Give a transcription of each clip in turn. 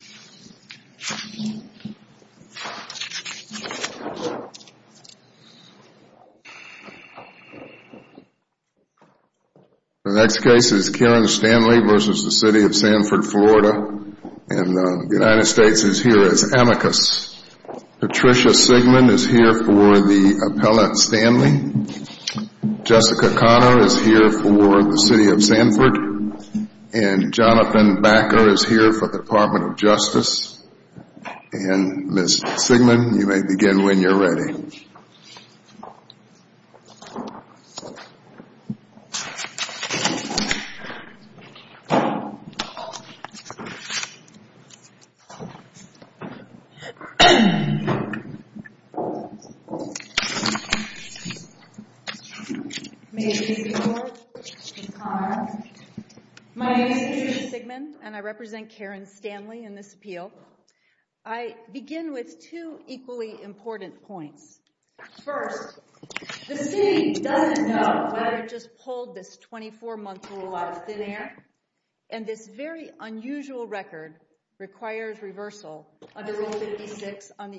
The next case is Karyn Stanley v. City of Sanford, Florida, and the United States is here as amicus. Patricia Sigmund is here for the appellate Stanley. Jessica Conner is here for the City of Sanford, and Jonathan Backer is here for the Department of Justice. And my name is Patricia Sigmund, and I represent Karyn Stanley in this appeal. I begin with two equally important points. First, the City doesn't know that I just pulled this 24-month rule out of thin air, and this very unusual record requires reversal under Rule 56 on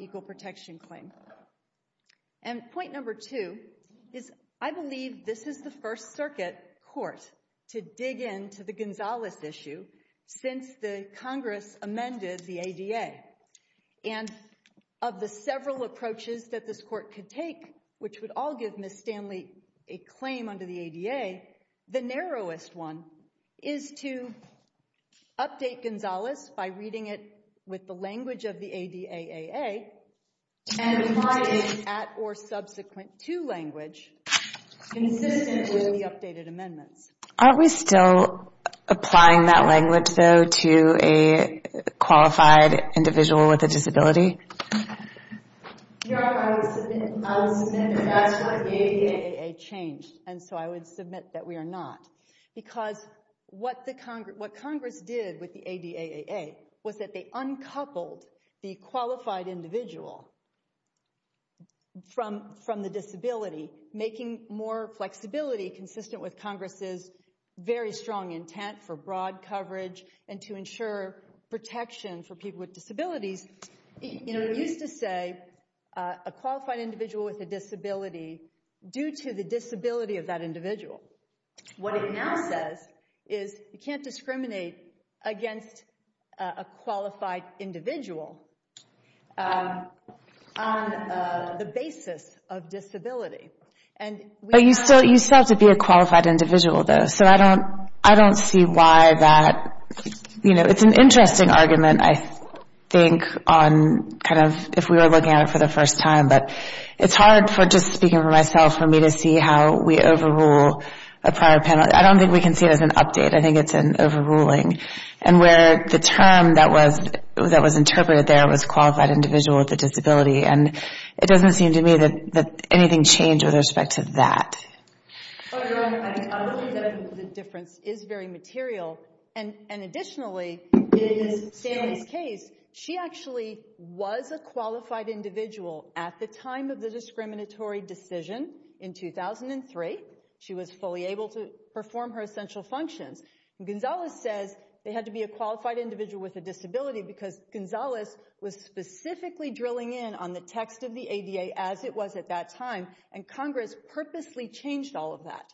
I believe this is the first circuit court to dig into the Gonzalez issue since the Congress amended the ADA. And of the several approaches that this court could take, which would all give Ms. Stanley a claim under the ADA, the narrowest one is to update Gonzalez by reading it with the language of the ADAAA and applying the at or subsequent to language consistent with the updated amendments. Aren't we still applying that language, though, to a qualified individual with a disability? I would submit that that's what the ADAAA changed, and so I would submit that we are not. Because what Congress did with the ADAAA was that they uncoupled the qualified individual from the disability, making more flexibility consistent with Congress's very strong intent for broad coverage and to ensure protection for people with disabilities. You know, it used to say a qualified individual with a disability, due to the disability of that individual. What it now says is you can't discriminate against a qualified individual on the basis of disability. But you still have to be a qualified individual, though, so I don't see why that, you know, it's an interesting argument, I think, on kind of if we were looking at it for the first time, but it's hard for, just speaking for myself, for me to see how we overrule a prior panel. I don't think we can see it as an update, I think it's an overruling, and where the term that was interpreted there was qualified individual with a disability, and it doesn't seem to me that anything changed with respect to that. But, Erin, I agree that the difference is very material, and additionally, in Sandy's case, she actually was a qualified individual at the time of the discriminatory decision in 2003. She was fully able to perform her essential functions. Gonzales says they had to be a qualified individual with a disability because Gonzales was specifically drilling in on the text of the ADA as it was at that time, and Congress purposely changed all of that.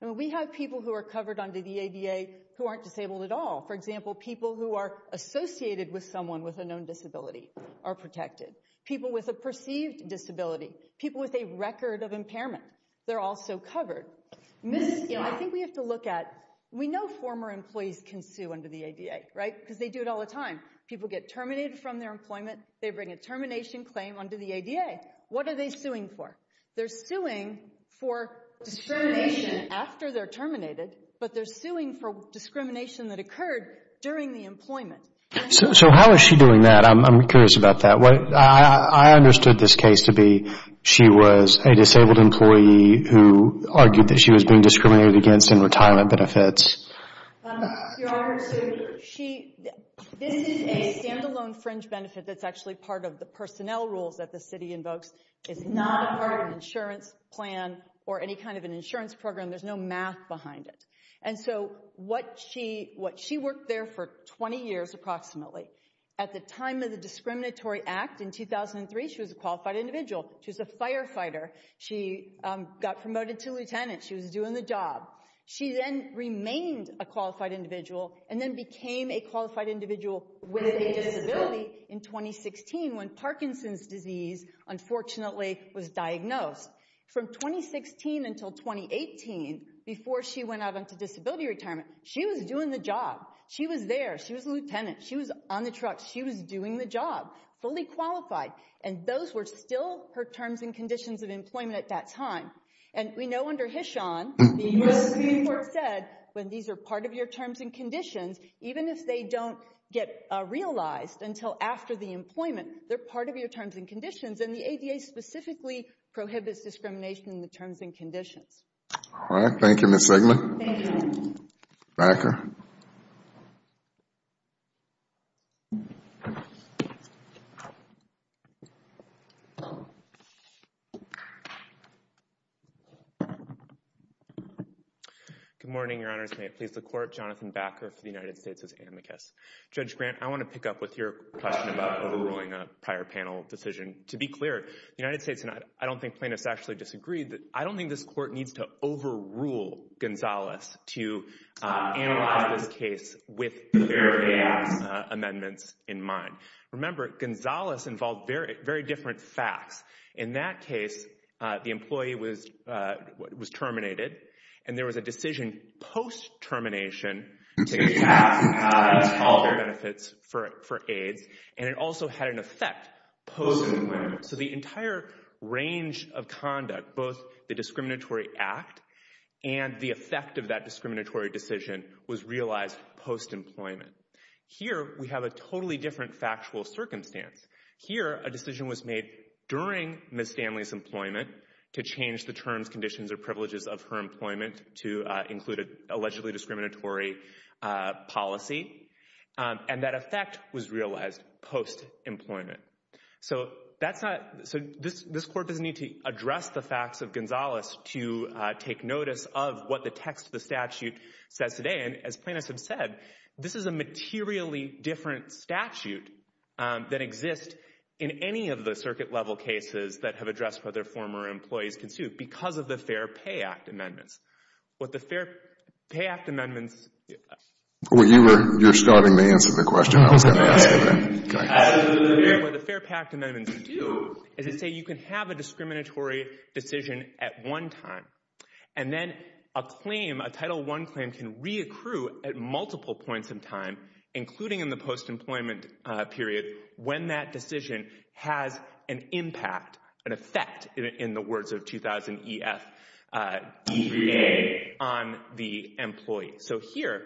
And we have people who are covered under the ADA who aren't disabled at all. For example, people who are associated with someone with a known disability are protected. People with a perceived disability, people with a record of impairment, they're also covered. I think we have to look at, we know former employees can sue under the ADA, right, because they do it all the time. People get terminated from their employment, they bring a termination claim under the ADA. What are they suing for? They're suing for discrimination after they're during the employment. So how is she doing that? I'm curious about that. I understood this case to be she was a disabled employee who argued that she was being discriminated against in retirement benefits. Your Honor, so she, this is a standalone fringe benefit that's actually part of the personnel rules that the city invokes. It's not a part of an insurance plan or any kind of an insurance program. There's no math behind it. And so what she, what she worked there for 20 years approximately. At the time of the discriminatory act in 2003, she was a qualified individual. She was a firefighter. She got promoted to lieutenant. She was doing the job. She then remained a qualified individual and then became a qualified individual with a disability in 2016 when Parkinson's disease, unfortunately, was diagnosed. From 2016 until 2018, before she went out into disability retirement, she was doing the job. She was there. She was a lieutenant. She was on the truck. She was doing the job, fully qualified. And those were still her terms and conditions of employment at that time. And we know under Hishon, the U.S. Supreme Court said, when these are part of your terms and conditions, even if they don't get realized until after the employment, they're part of your terms and conditions. And the ADA specifically prohibits discrimination in the terms and conditions. All right. Thank you, Ms. Zegman. Thank you, Your Honor. Backer. Good morning, Your Honors. May it please the Court. Jonathan Backer for the United States Justice Amicus. Judge Grant, I want to pick up with your question about overruling a prior panel decision. To be clear, the United States, and I don't think plaintiffs actually disagreed, I don't think this Court needs to overrule Gonzales to analyze this case with the Veritas amendments in mind. Remember, Gonzales involved very different facts. In that case, the employee was terminated and there was a decision post-termination to tax all benefits for AIDS. And it also had an effect post-employment. So the entire range of conduct, both the discriminatory act and the effect of that discriminatory decision was realized post-employment. Here, we have a totally different factual circumstance. Here, a decision was made during Ms. Stanley's employment to change the terms, conditions, or privileges of her employment to include an allegedly discriminatory policy. And that effect was realized post-employment. So that's not, so this Court doesn't need to address the facts of Gonzales to take notice of what the text of the statute says today. And as plaintiffs have said, this is a materially different statute than exists in any of the circuit-level cases that have addressed whether former employees can sue because of the Fair Pay Act amendments. What the Fair Pay Act amendments... Well, you were, you're starting to answer the question. I was going to ask it then. What the Fair Pay Act amendments do is they say you can have a discriminatory decision at one time. And then a claim, a Title I claim, can reaccrue at multiple points in time, including in the post-employment period, when that decision has an impact, an effect, in the words of 2000 EF, D3A, on the employee. So here,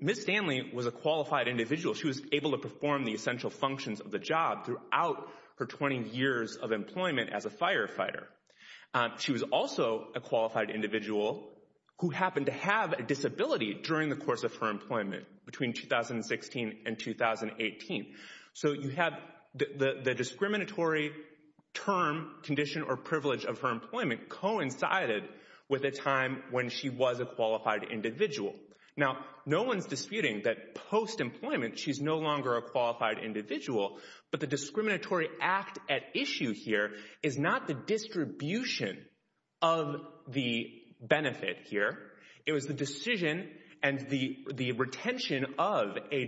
Ms. Stanley was a qualified individual. She was able to perform the essential functions of the job throughout her 20 years of employment as a firefighter. She was also a qualified individual who happened to have a disability during the course of her employment, between 2016 and 2018. So you have the discriminatory term, condition, or privilege of her employment coincided with a time when she was a qualified individual. Now, no one's disputing that post-employment, she's no longer a qualified individual, but the discriminatory act at issue here is not the distribution of the benefit here. It was the decision and the retention of an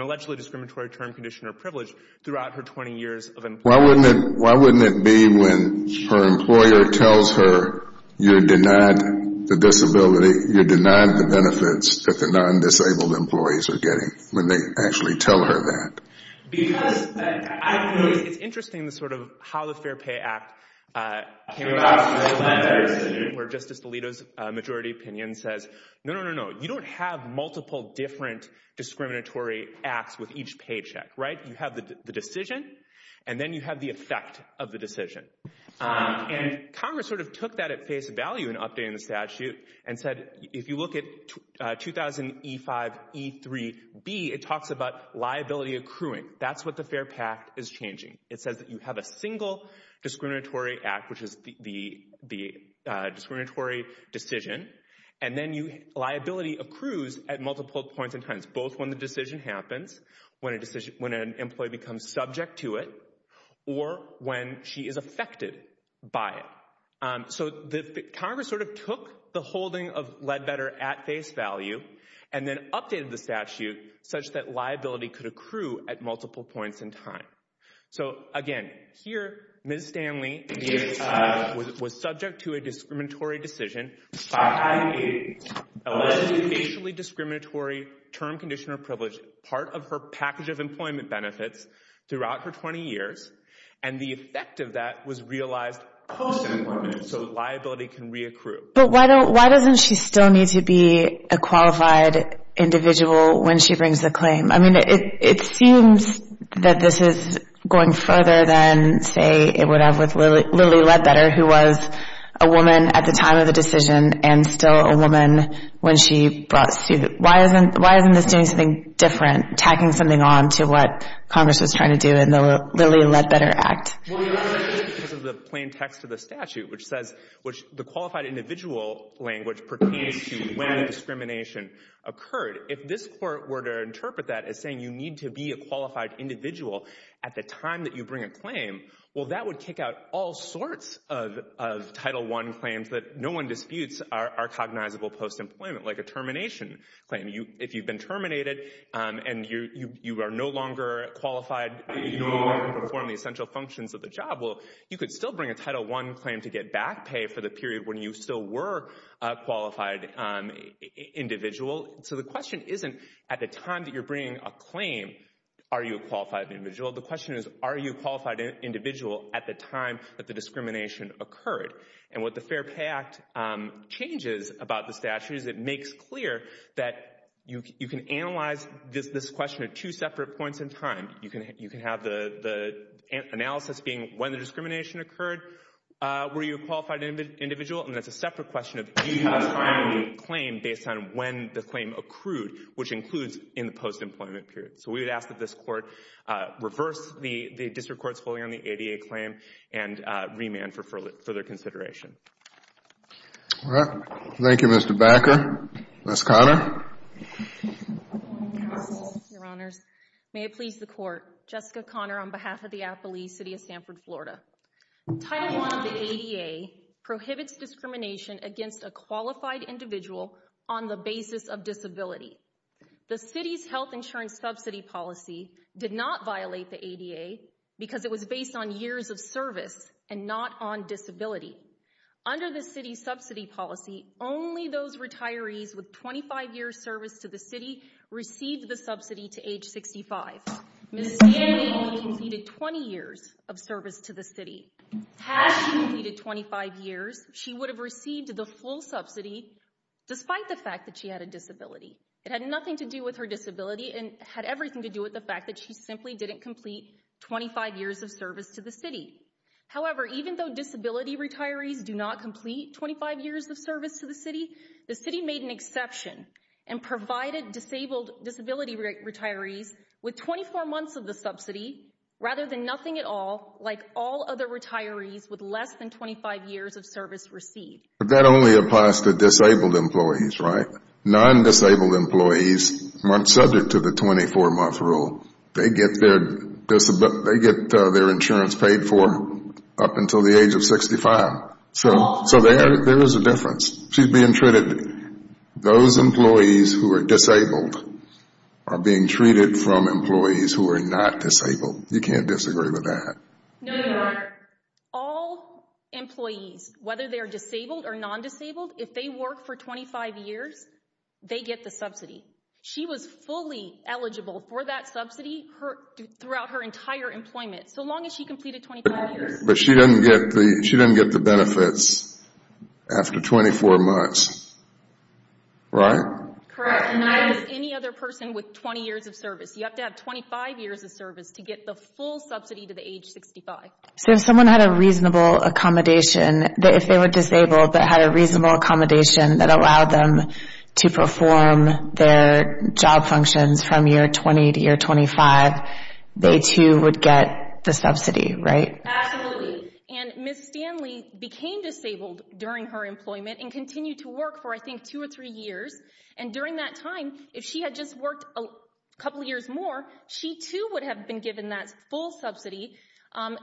allegedly discriminatory term, condition, or privilege throughout her 20 years of employment. Why wouldn't it be when her employer tells her, you're denied the disability, you're denied the benefits that the non-disabled employees are getting, when they actually tell her that? Because I think it's interesting, the sort of how the Fair Pay Act came about, where Justice Alito's majority opinion says, no, no, no, no, you don't have multiple different discriminatory acts with each paycheck, right? You have the decision, and then you have the effect of the decision. And Congress sort of took that at face value in updating the statute and said, if you look at 2000E5E3B, it talks about liability accruing. That's what the Fair Pact is changing. It says that you have a single discriminatory act, which is the discriminatory decision, and then liability accrues at multiple points and times, both when the decision happens, when an employee becomes subject to it, or when she is affected by it. So Congress sort of took the holding of Ledbetter at face value and then updated the statute such that liability could accrue at multiple points in time. So again, here, Ms. Stanley was subject to a discriminatory decision by a allegedly discriminatory term condition or privilege, part of her package of employment benefits throughout her 20 years, and the effect of that was realized post-employment, so liability can re-accrue. But why doesn't she still need to be a qualified individual when she brings the claim? I mean, it seems that this is going further than, say, it would have with Lily Ledbetter, who was a woman at the time of the decision and still a woman when she brought suit. Why isn't this doing something different, tacking something on to what Congress was trying to do in the Lily Ledbetter Act? Well, it wasn't because of the plain text of the statute, which says the qualified individual language pertains to when discrimination occurred. If this Court were to interpret that as saying you need to be a qualified individual at the time that you bring a claim, well, that would kick out all sorts of Title I claims that no one disputes are cognizable post-employment, like a termination claim. If you've been terminated and you are no longer qualified to perform the essential functions of the job, well, you could still bring a Title I claim to get back pay for the period when you still were a qualified individual. So the question isn't at the time that you're bringing a claim, are you a qualified individual? The question is, are you a qualified individual at the time that the discrimination occurred? And what the Fair Pay Act changes about the statute is it makes clear that you can analyze this question at two separate points in time. You can have the analysis being when the discrimination occurred, were you a qualified individual? And that's a separate question of when you have a claim based on when the claim accrued, which includes in the post-employment period. So we would ask that this Court reverse the district court's holding on the ADA claim and remand for further consideration. All right. Thank you, Mr. Backer. Ms. Conner. Your Honors, may it please the Court, Jessica Conner on behalf of the affilee, City of Sanford, Florida. Title I of the ADA prohibits discrimination against a qualified individual on the basis of disability. The City's health insurance subsidy policy did not violate the ADA because it was based on years of service and not on disability. Under the City's subsidy policy, only those retirees with 25 years service to the City received the subsidy to age 65. Ms. Stanley only completed 20 years of service to the City. Had she completed 25 years, she would have received the full subsidy despite the fact that she had a disability. It had nothing to do with her disability and had everything to do with the fact that she simply didn't complete 25 years of service to the City. However, even though disability retirees do not complete 25 years of service to the City, the City made an exception and provided disabled disability retirees with 24 months of the subsidy rather than nothing at all like all other retirees with less than 25 years of service received. But that only applies to disabled employees, right? Non-disabled employees, subject to the 24-month rule, they get their insurance paid for up until the age of 65. So there is a difference. She's being treated, those employees who are disabled are being treated from employees who are not disabled. You can't disagree with that. No, Your Honor. All employees, whether they're disabled or non-disabled, if they work for 25 years, they get the subsidy. She was fully eligible for that subsidy throughout her entire employment, so long as she completed 25 years. But she didn't get the benefits after 24 months, right? Correct. And neither does any other person with 20 years of service. You have to have 25 years of service to get the full subsidy to the age 65. So if someone had a reasonable accommodation, if they were disabled but had a reasonable accommodation that allowed them to perform their job functions from year 20 to year 25, they too would get the subsidy, right? Absolutely. And Ms. Stanley became disabled during her employment and continued to work for, I think, two or three years. And during that time, if she had just worked a couple years more, she too would have been given that full subsidy.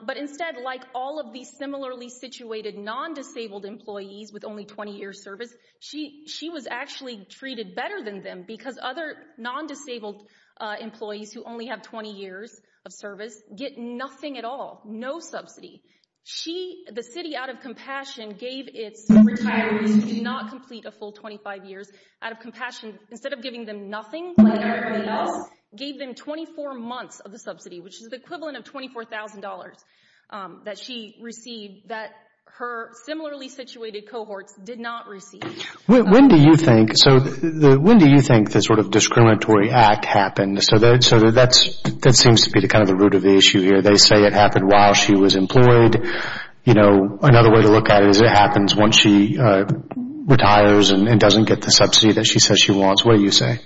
But instead, like all of these similarly situated non-disabled employees with only 20 years service, she was actually treated better than them because other non-disabled employees who only have 20 years of service get nothing at all, no subsidy. The city, out of compassion, gave its retirees who did not complete a full 25 years, out of compassion, instead of giving them nothing like everybody else, gave them 24 months of the similarly situated cohorts, did not receive. When do you think the sort of discriminatory act happened? So that seems to be kind of the root of the issue here. They say it happened while she was employed. Another way to look at it is it happens once she retires and doesn't get the subsidy that she says she wants. What do you say?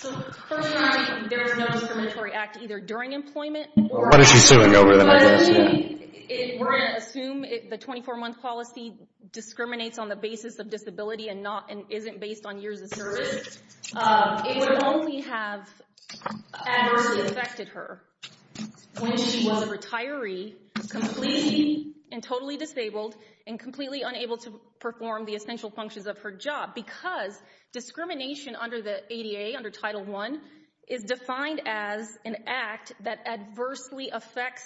So first of all, there is no discriminatory act either during employment or... What is she suing over then? If we're going to assume the 24-month policy discriminates on the basis of disability and not and isn't based on years of service, it would only have adversely affected her when she was a retiree, completely and totally disabled and completely unable to perform the essential functions of her job. Because discrimination under the ADA, under Title I, is defined as an act that adversely affects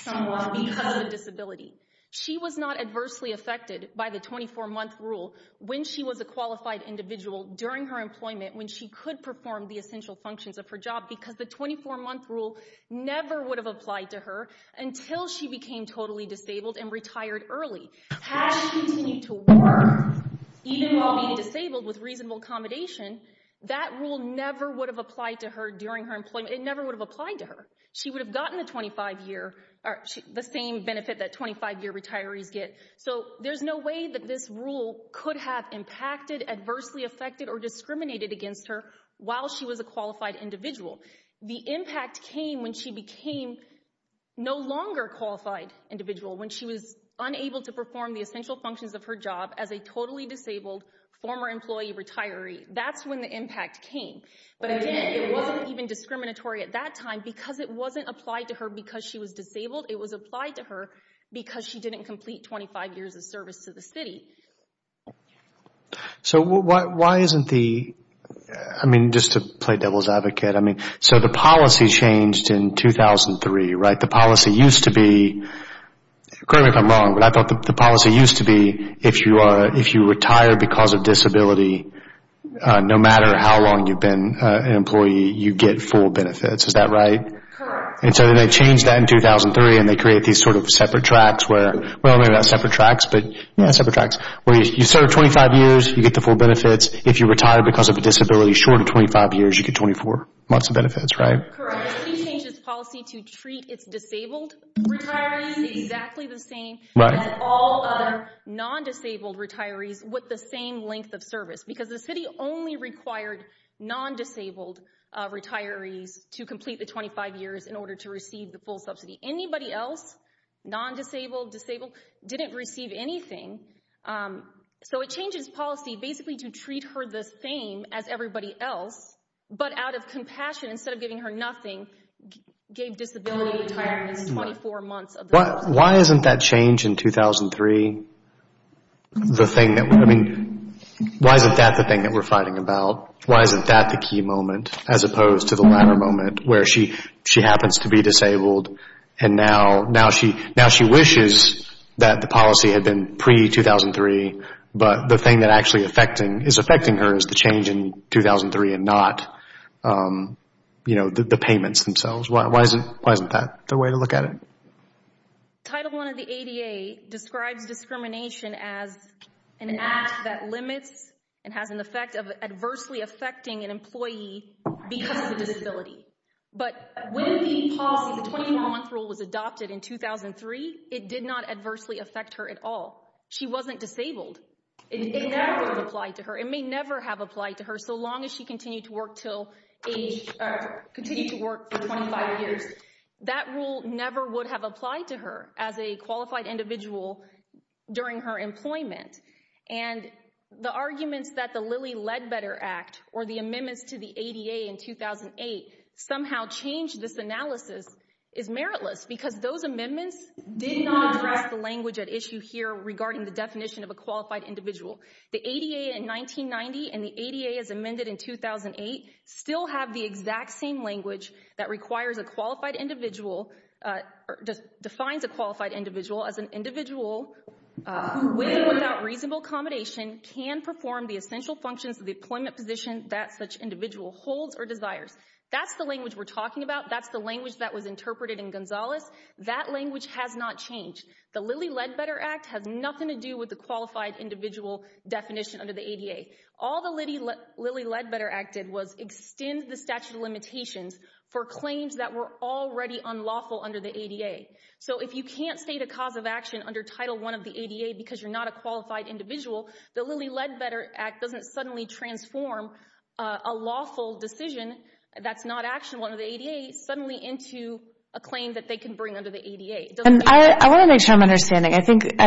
someone because of a disability. She was not adversely affected by the 24-month rule when she was a qualified individual during her employment, when she could perform the essential functions of her job, because the 24-month rule never would have applied to her until she became totally disabled and retired early. Had she continued to work, even while being disabled, with reasonable accommodation, that rule never would have applied to her during her employment. It never would have applied to her. She would have gotten the same benefit that 25-year retirees get. So there's no way that this rule could have impacted, adversely affected, or discriminated against her while she was a qualified individual. The impact came when she became no longer a qualified individual, when she was unable to perform the essential functions of her job as a totally disabled former employee retiree. That's when the impact came. But again, it wasn't even discriminatory at that time because it wasn't applied to her because she was disabled. It was applied to her because she didn't complete 25 years of service to the city. So why isn't the, I mean, just to play devil's advocate, I mean, so the policy changed in 2003, right? The policy used to be, correct me if I'm wrong, but I thought the policy used to be if you retire because of disability, no matter how long you've been an employee, you get full benefits. Is that right? Correct. And so then they changed that in 2003 and they created these sort of separate tracks where, well, maybe not separate tracks, but yeah, separate tracks, where you serve 25 years, you get the full benefits. If you retire because of a disability short of 25 years, you get 24 months of benefits, right? Correct. The city changed its policy to treat its disabled retirees exactly the same as all other non-disabled retirees with the same length of service because the city only required non-disabled retirees to complete the 25 years in order to receive the full subsidy. Anybody else, non-disabled, disabled, didn't receive anything. So it changed its policy basically to treat her the same as everybody else, but out of compassion, instead of giving her nothing, gave disability retirements 24 months of the year. Why isn't that change in 2003 the thing that, I mean, why isn't that the thing that we're fighting about? Why isn't that the key moment as opposed to the latter moment where she happens to be disabled and now she wishes that the policy had been pre-2003, but the thing that actually is affecting her is the change in 2003 and not the payments themselves. Why isn't that the way to look at it? Title I of the ADA describes discrimination as an act that limits and has an effect of adversely affecting an employee because of a disability. But when the policy, the 21 month rule was adopted in 2003, it did not adversely affect her at all. She wasn't disabled. It never would have applied to her. It may never have applied to her so long as she continued to work for 25 years. That rule never would have applied to her as a qualified individual during her employment. And the arguments that the Lilly Ledbetter Act or the amendments to the ADA in 2008 somehow changed this analysis is meritless because those amendments did not address the qualified individual. The ADA in 1990 and the ADA as amended in 2008 still have the exact same language that requires a qualified individual or defines a qualified individual as an individual with or without reasonable accommodation can perform the essential functions of the employment position that such individual holds or desires. That's the language we're talking about. That's the language that was interpreted in Gonzalez. That language has not changed. The Lilly Ledbetter Act has nothing to do with the qualified individual definition under the ADA. All the Lilly Ledbetter Act did was extend the statute of limitations for claims that were already unlawful under the ADA. So if you can't state a cause of action under Title I of the ADA because you're not a qualified individual, the Lilly Ledbetter Act doesn't suddenly transform a lawful decision that's not actually one of the ADA's suddenly into a claim that they can bring I want to make sure I'm understanding. I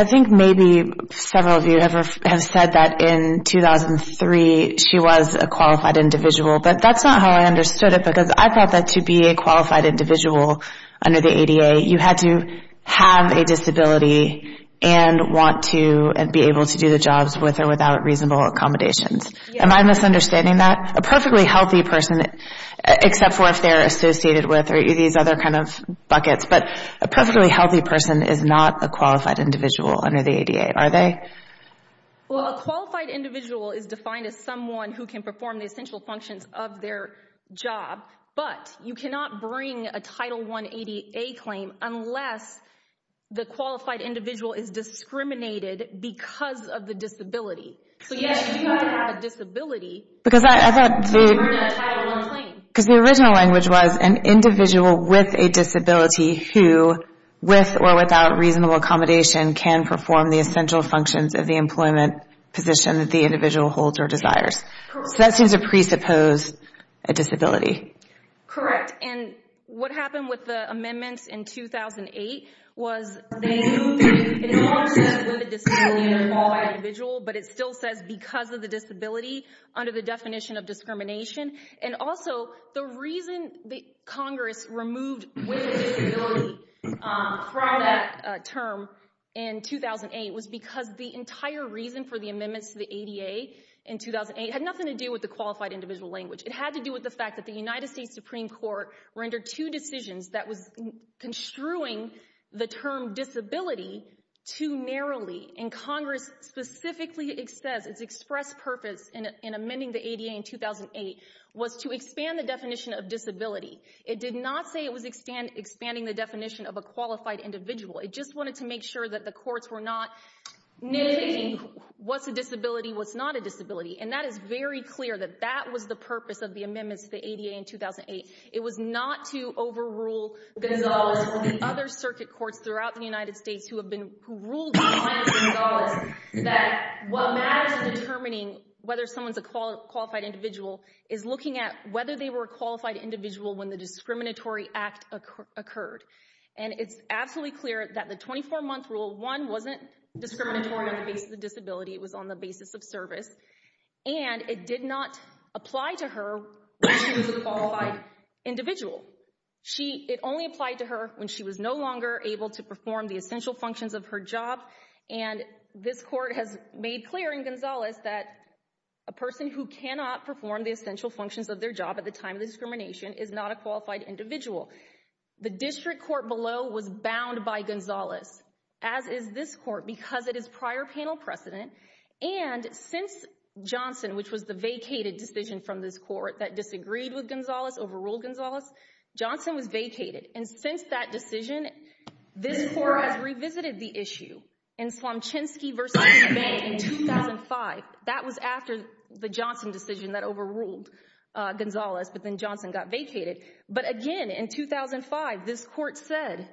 think maybe several of you have said that in 2003 she was a qualified individual, but that's not how I understood it because I thought that to be a qualified individual under the ADA, you had to have a disability and want to be able to do the jobs with or without reasonable accommodations. Am I misunderstanding that? A perfectly healthy person, except for if they're associated with these other kind of buckets, but a perfectly healthy person is not a qualified individual under the ADA, are they? Well, a qualified individual is defined as someone who can perform the essential functions of their job, but you cannot bring a Title I ADA claim unless the qualified individual is discriminated because of the disability. So yes, you do have to have a disability to bring a Title I claim. Because the original language was an individual with a disability who, with or without reasonable accommodation, can perform the essential functions of the employment position that the individual holds or desires. So that seems to presuppose a disability. Correct. And what with a disability and a qualified individual, but it still says because of the disability under the definition of discrimination. And also, the reason that Congress removed from that term in 2008 was because the entire reason for the amendments to the ADA in 2008 had nothing to do with the qualified individual language. It had to do with the fact that the United States Supreme Court rendered two decisions that was construing the term disability to Congress. Specifically, it says its express purpose in amending the ADA in 2008 was to expand the definition of disability. It did not say it was expanding the definition of a qualified individual. It just wanted to make sure that the courts were not nitpicking what's a disability, what's not a disability. And that is very clear that that was the purpose of the amendments to the ADA in 2008. It was not to overrule other circuit courts throughout the United States who ruled that what matters in determining whether someone's a qualified individual is looking at whether they were a qualified individual when the discriminatory act occurred. And it's absolutely clear that the 24-month rule, one, wasn't discriminatory on the basis of disability. It was on the basis of service. And it did not apply to her when she was a qualified individual. It only applied to her when she was no longer able to perform the essential functions of her job. And this court has made clear in Gonzalez that a person who cannot perform the essential functions of their job at the time of discrimination is not a qualified individual. The district court below was bound by Gonzalez, as is this court, because it is prior panel precedent. And since Johnson, which was the vacated decision from this court that disagreed with Gonzalez, overruled Gonzalez, Johnson was vacated. And since that decision, this court has revisited the issue in Swamchinsky v. May in 2005. That was after the Johnson decision that overruled Gonzalez, but then Johnson got vacated. But again, in 2005, this court said,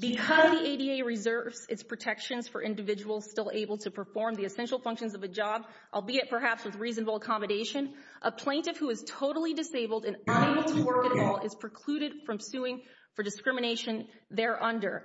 because the ADA reserves its protections for individuals still able to perform the essential functions of a job, albeit perhaps with reasonable accommodation, a plaintiff who is totally disabled and unable to work at all is precluded from suing for discrimination there under.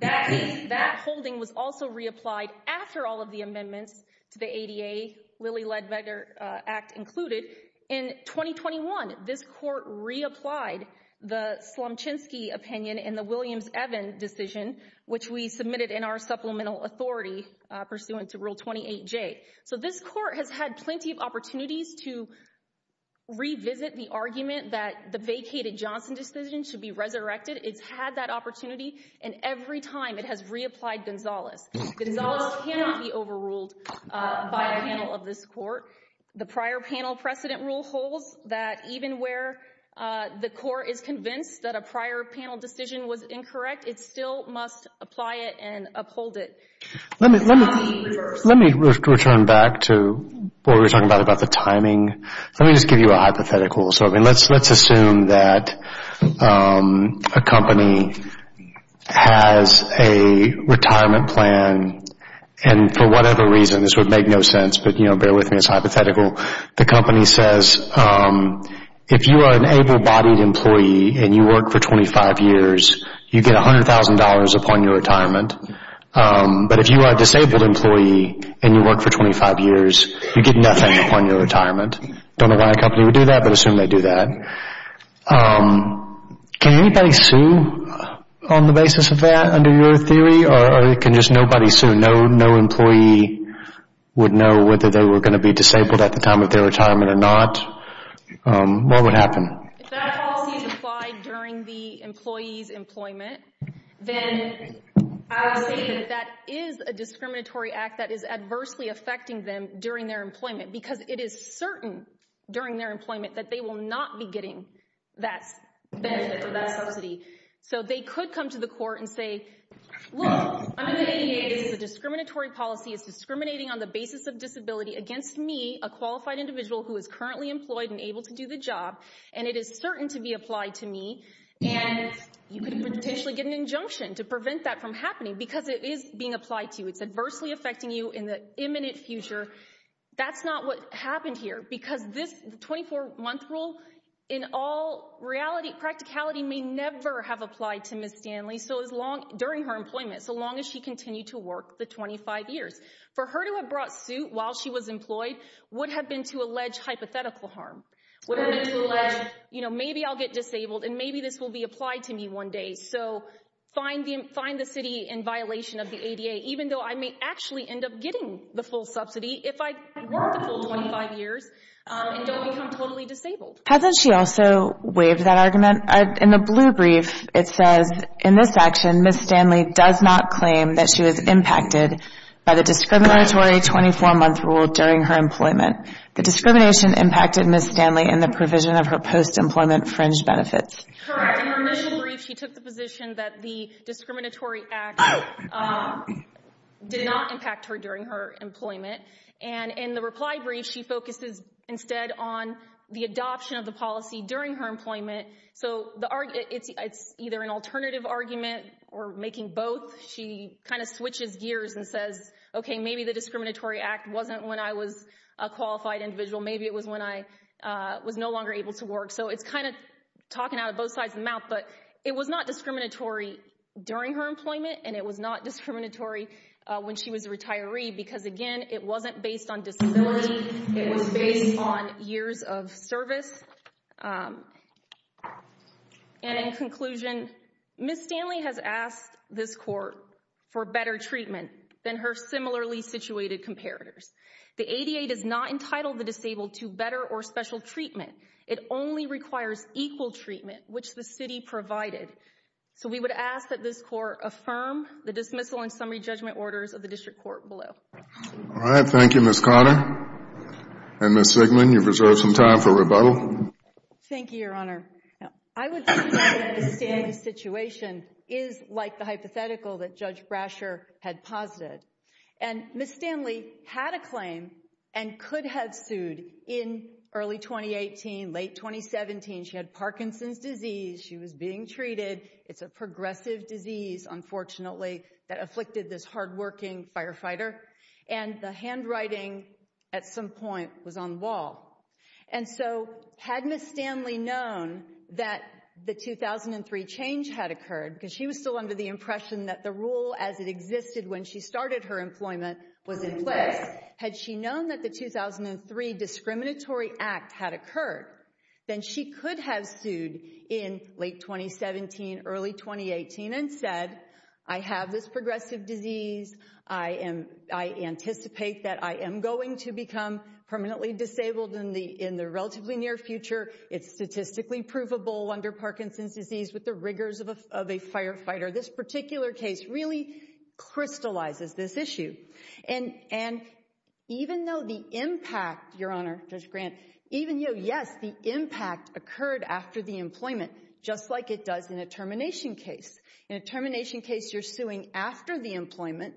That case, that holding was also reapplied after all of the amendments to the ADA, Lilly Ledbecker Act included. In 2021, this court reapplied the Swamchinsky opinion in the Williams-Evans decision, which we submitted in our supplemental authority pursuant to Rule 28J. So this court has had plenty of opportunities to revisit the argument that the vacated Johnson decision should be resurrected. It's had that opportunity, and every time it has reapplied Gonzalez. Gonzalez cannot be overruled by a panel of this court. The prior panel precedent rule holds that even where the court is convinced that a prior panel decision was incorrect, it still must apply it and uphold it. Let me return back to what we were talking about, about the timing. Let me just give you a hypothetical. So let's assume that a company has a retirement plan, and for whatever reason, this would make no sense, but bear with me, it's hypothetical. The company says, if you are an able-bodied employee and you work for 25 years, you get $100,000 upon your If you are a disabled employee and you work for 25 years, you get nothing upon your retirement. Don't know why a company would do that, but assume they do that. Can anybody sue on the basis of that under your theory, or can just nobody sue? No employee would know whether they were going to be disabled at the time of their retirement or not. What would happen? If that policy is applied during the employee's employment, then I would say that that is a discriminatory act that is adversely affecting them during their employment, because it is certain during their employment that they will not be getting that benefit or that subsidy. So they could come to the court and say, look, I'm going to make a case, the discriminatory policy is discriminating on the basis of disability against me, a qualified individual who is currently employed and able to do the job, and it is certain to be applied to me, and you could potentially get an injunction to prevent that from happening because it is being applied to you. It's adversely affecting you in the imminent future. That's not what happened here, because this 24-month rule in all reality, practicality may never have applied to Ms. Stanley during her employment, so long as she continued to work the 25 years. For her to have brought suit while she was employed would have been to allege hypothetical harm. Would have been to allege, you know, maybe I'll get disabled, and maybe this will be applied to me one day, so find the city in violation of the ADA, even though I may actually end up getting the full subsidy if I work the full 25 years and don't become totally disabled. Hasn't she also waived that argument? In the blue brief, it says, in this section, Ms. Stanley does not claim that she was impacted by the discriminatory 24-month rule during her employment. The discrimination impacted Ms. Stanley in the provision of her post-employment fringe benefits. Correct. In her initial brief, she took the position that the discriminatory act did not impact her during her employment, and in the reply brief, she focuses instead on the adoption of the policy during her employment. So, it's either an alternative argument or making both. She kind of switches gears and says, okay, maybe the discriminatory act wasn't when I was a qualified individual. Maybe it was when I was no longer able to work. So, it's kind of talking out of both sides of the mouth, but it was not discriminatory during her employment, and it was not discriminatory when she was a retiree, because again, it wasn't based on disability. It was based on years of service. And in conclusion, Ms. Stanley has asked this court for better treatment than her similarly situated comparators. The ADA does not entitle the disabled to better or special treatment. It only requires equal treatment, which the city provided. So, we would ask that this court affirm the dismissal and summary judgment orders of the district court below. All right. Thank you, Ms. Carter. And Ms. Zegman, you've reserved some time for rebuttal. Thank you, Your Honor. I would say that the Stanley situation is like the hypothetical that Ms. Stanley had a claim and could have sued in early 2018, late 2017. She had Parkinson's disease. She was being treated. It's a progressive disease, unfortunately, that afflicted this hardworking firefighter. And the handwriting at some point was on the wall. And so, had Ms. Stanley known that the 2003 change had occurred, because she was still under the impression that the rule as it existed when she started her employment was in place, had she known that the 2003 discriminatory act had occurred, then she could have sued in late 2017, early 2018 and said, I have this progressive disease. I anticipate that I am going to become permanently disabled in the relatively near future. It's statistically provable under Parkinson's disease with the crystallizes this issue. And even though the impact, Your Honor, Judge Grant, even though, yes, the impact occurred after the employment, just like it does in a termination case. In a termination case, you're suing after the employment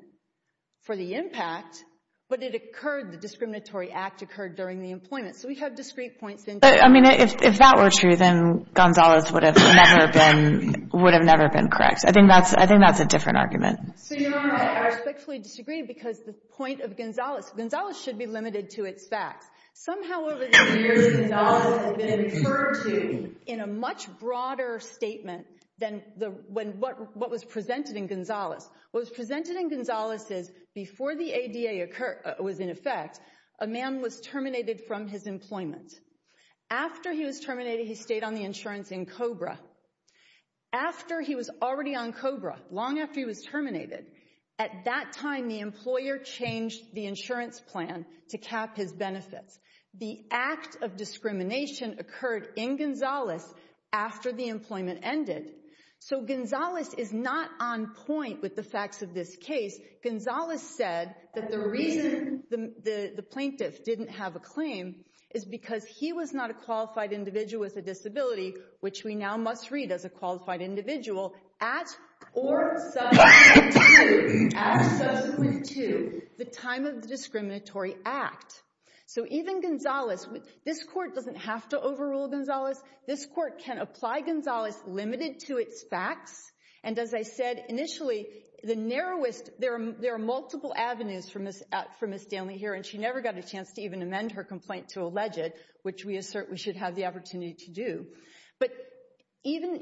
for the impact, but it occurred, the discriminatory act occurred during the employment. So we have discrete points. I mean, if that were true, then Gonzalez would have never been correct. I think that's a different argument. So Your Honor, I respectfully disagree because the point of Gonzalez, Gonzalez should be limited to its facts. Somehow over the years, Gonzalez has been referred to in a much broader statement than what was presented in Gonzalez. What was presented in Gonzalez is before the ADA was in effect, a man was terminated from his employment. After he was terminated, he stayed on the insurance in COBRA. After he was already on COBRA, long after he was terminated, at that time, the employer changed the insurance plan to cap his benefits. The act of discrimination occurred in Gonzalez after the employment ended. So Gonzalez is not on point with the facts of this case. Gonzalez said that the reason the plaintiff didn't have a claim is because he was not a qualified individual with a disability, which we now must read as a qualified individual at or subsequent to the time of the discriminatory act. So even Gonzalez, this court doesn't have to overrule Gonzalez. This court can apply Gonzalez limited to its facts. And as I said initially, the narrowest, there are multiple avenues for Ms. Daly here, and she never got a chance to even amend her complaint to allege it, which we assert we should have the opportunity to do. But even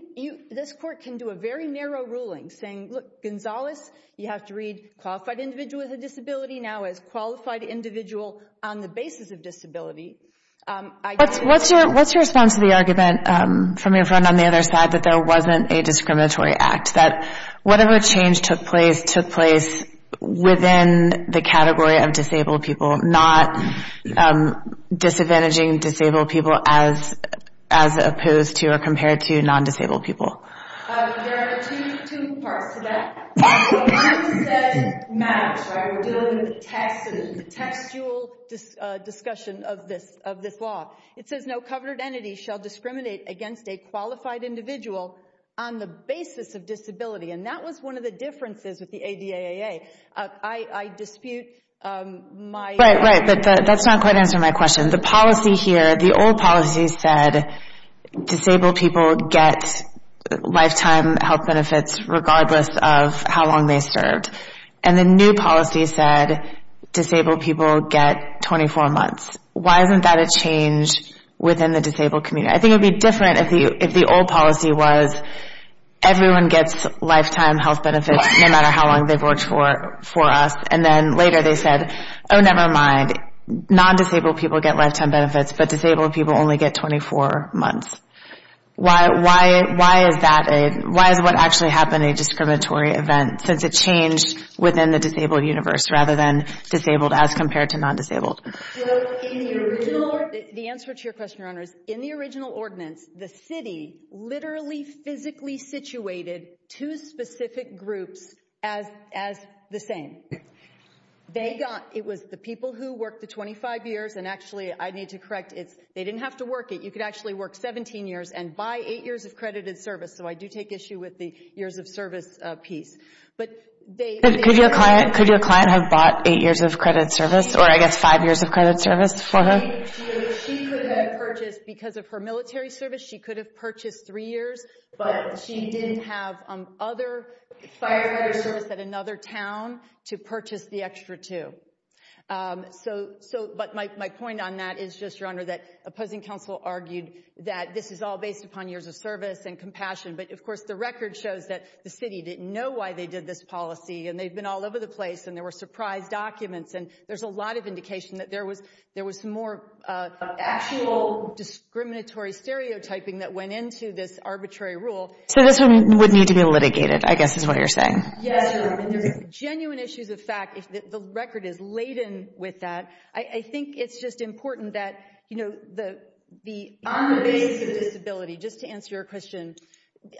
this court can do a very narrow ruling saying, look, Gonzalez, you have to read qualified individual with a disability now as qualified individual on the basis of disability. What's your response to the argument from your friend on the other side that there wasn't a discriminatory act, that whatever change took place within the category of disabled people, not disadvantaging disabled people as opposed to or compared to non-disabled people? There are two parts to that. One is that it matters. We're dealing with the textual discussion of this law. It says no covered entity shall discriminate against a qualified individual on the basis of disability. And that was one of the differences with the ADAA. I dispute my... Right, right, but that's not quite answering my question. The policy here, the old policy said disabled people get lifetime health benefits regardless of how long they served. And the new policy said disabled people get 24 months. Why isn't that a change within the disabled community? I think it'd be different if the old policy was everyone gets lifetime health benefits no matter how long they've worked for us. And then later they said, oh, never mind, non-disabled people get lifetime benefits, but disabled people only get 24 months. Why is that a, why is what actually happened a discriminatory event, since it changed within the disabled universe rather than disabled as compared to non-disabled? The answer to your question, Your Honor, is in the original ordinance, the city literally physically situated two specific groups as the same. They got, it was the people who worked the 25 years, and actually I need to correct, it's, they didn't have to work it. You could actually work 17 years and buy eight years of credited service. So I do take issue with the years of service piece, but they... Could your client have bought eight years of credit service, or I guess five years of credit service for her? She could have purchased, because of her military service, she could have purchased three years, but she didn't have other firefighter service at another town to purchase the extra two. So, so, but my, my point on that is just, Your Honor, that opposing counsel argued that this is all based upon years of service and compassion, but of course the record shows that the city didn't know why they did this policy, and they've been all over the place, and there were surprise documents, and there's a lot of that went into this arbitrary rule. So this one would need to be litigated, I guess is what you're saying. Yes, Your Honor, there's genuine issues of fact, the record is laden with that. I think it's just important that, you know, the, the, on the basis of disability, just to answer your question,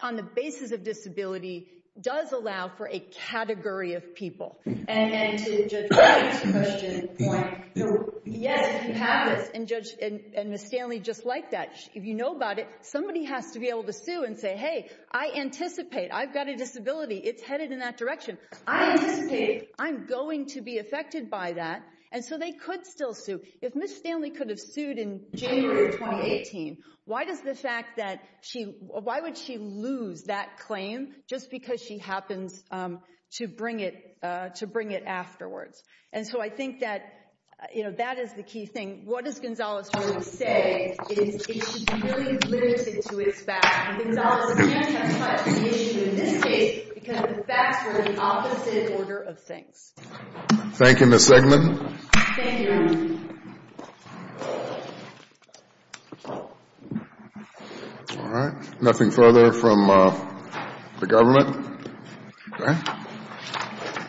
on the basis of disability does allow for a category of people, and to Judge White's point, yes, you have this, and Judge, and Ms. Stanley just liked that. If you know about it, somebody has to be able to sue and say, hey, I anticipate, I've got a disability, it's headed in that direction. I anticipate I'm going to be affected by that, and so they could still sue. If Ms. Stanley could have sued in January of 2018, why does the fact that she, why would she lose that claim just because she happens to bring it, to bring it afterwards? And so I think that, you know, that is the key thing. What does Gonzalez-Jones say is it should be really limited to its facts, and Gonzalez-Jones can't touch the issue in this case, because the facts are in the opposite order of things. Thank you, Ms. Eggman. Thank you, Your Grace.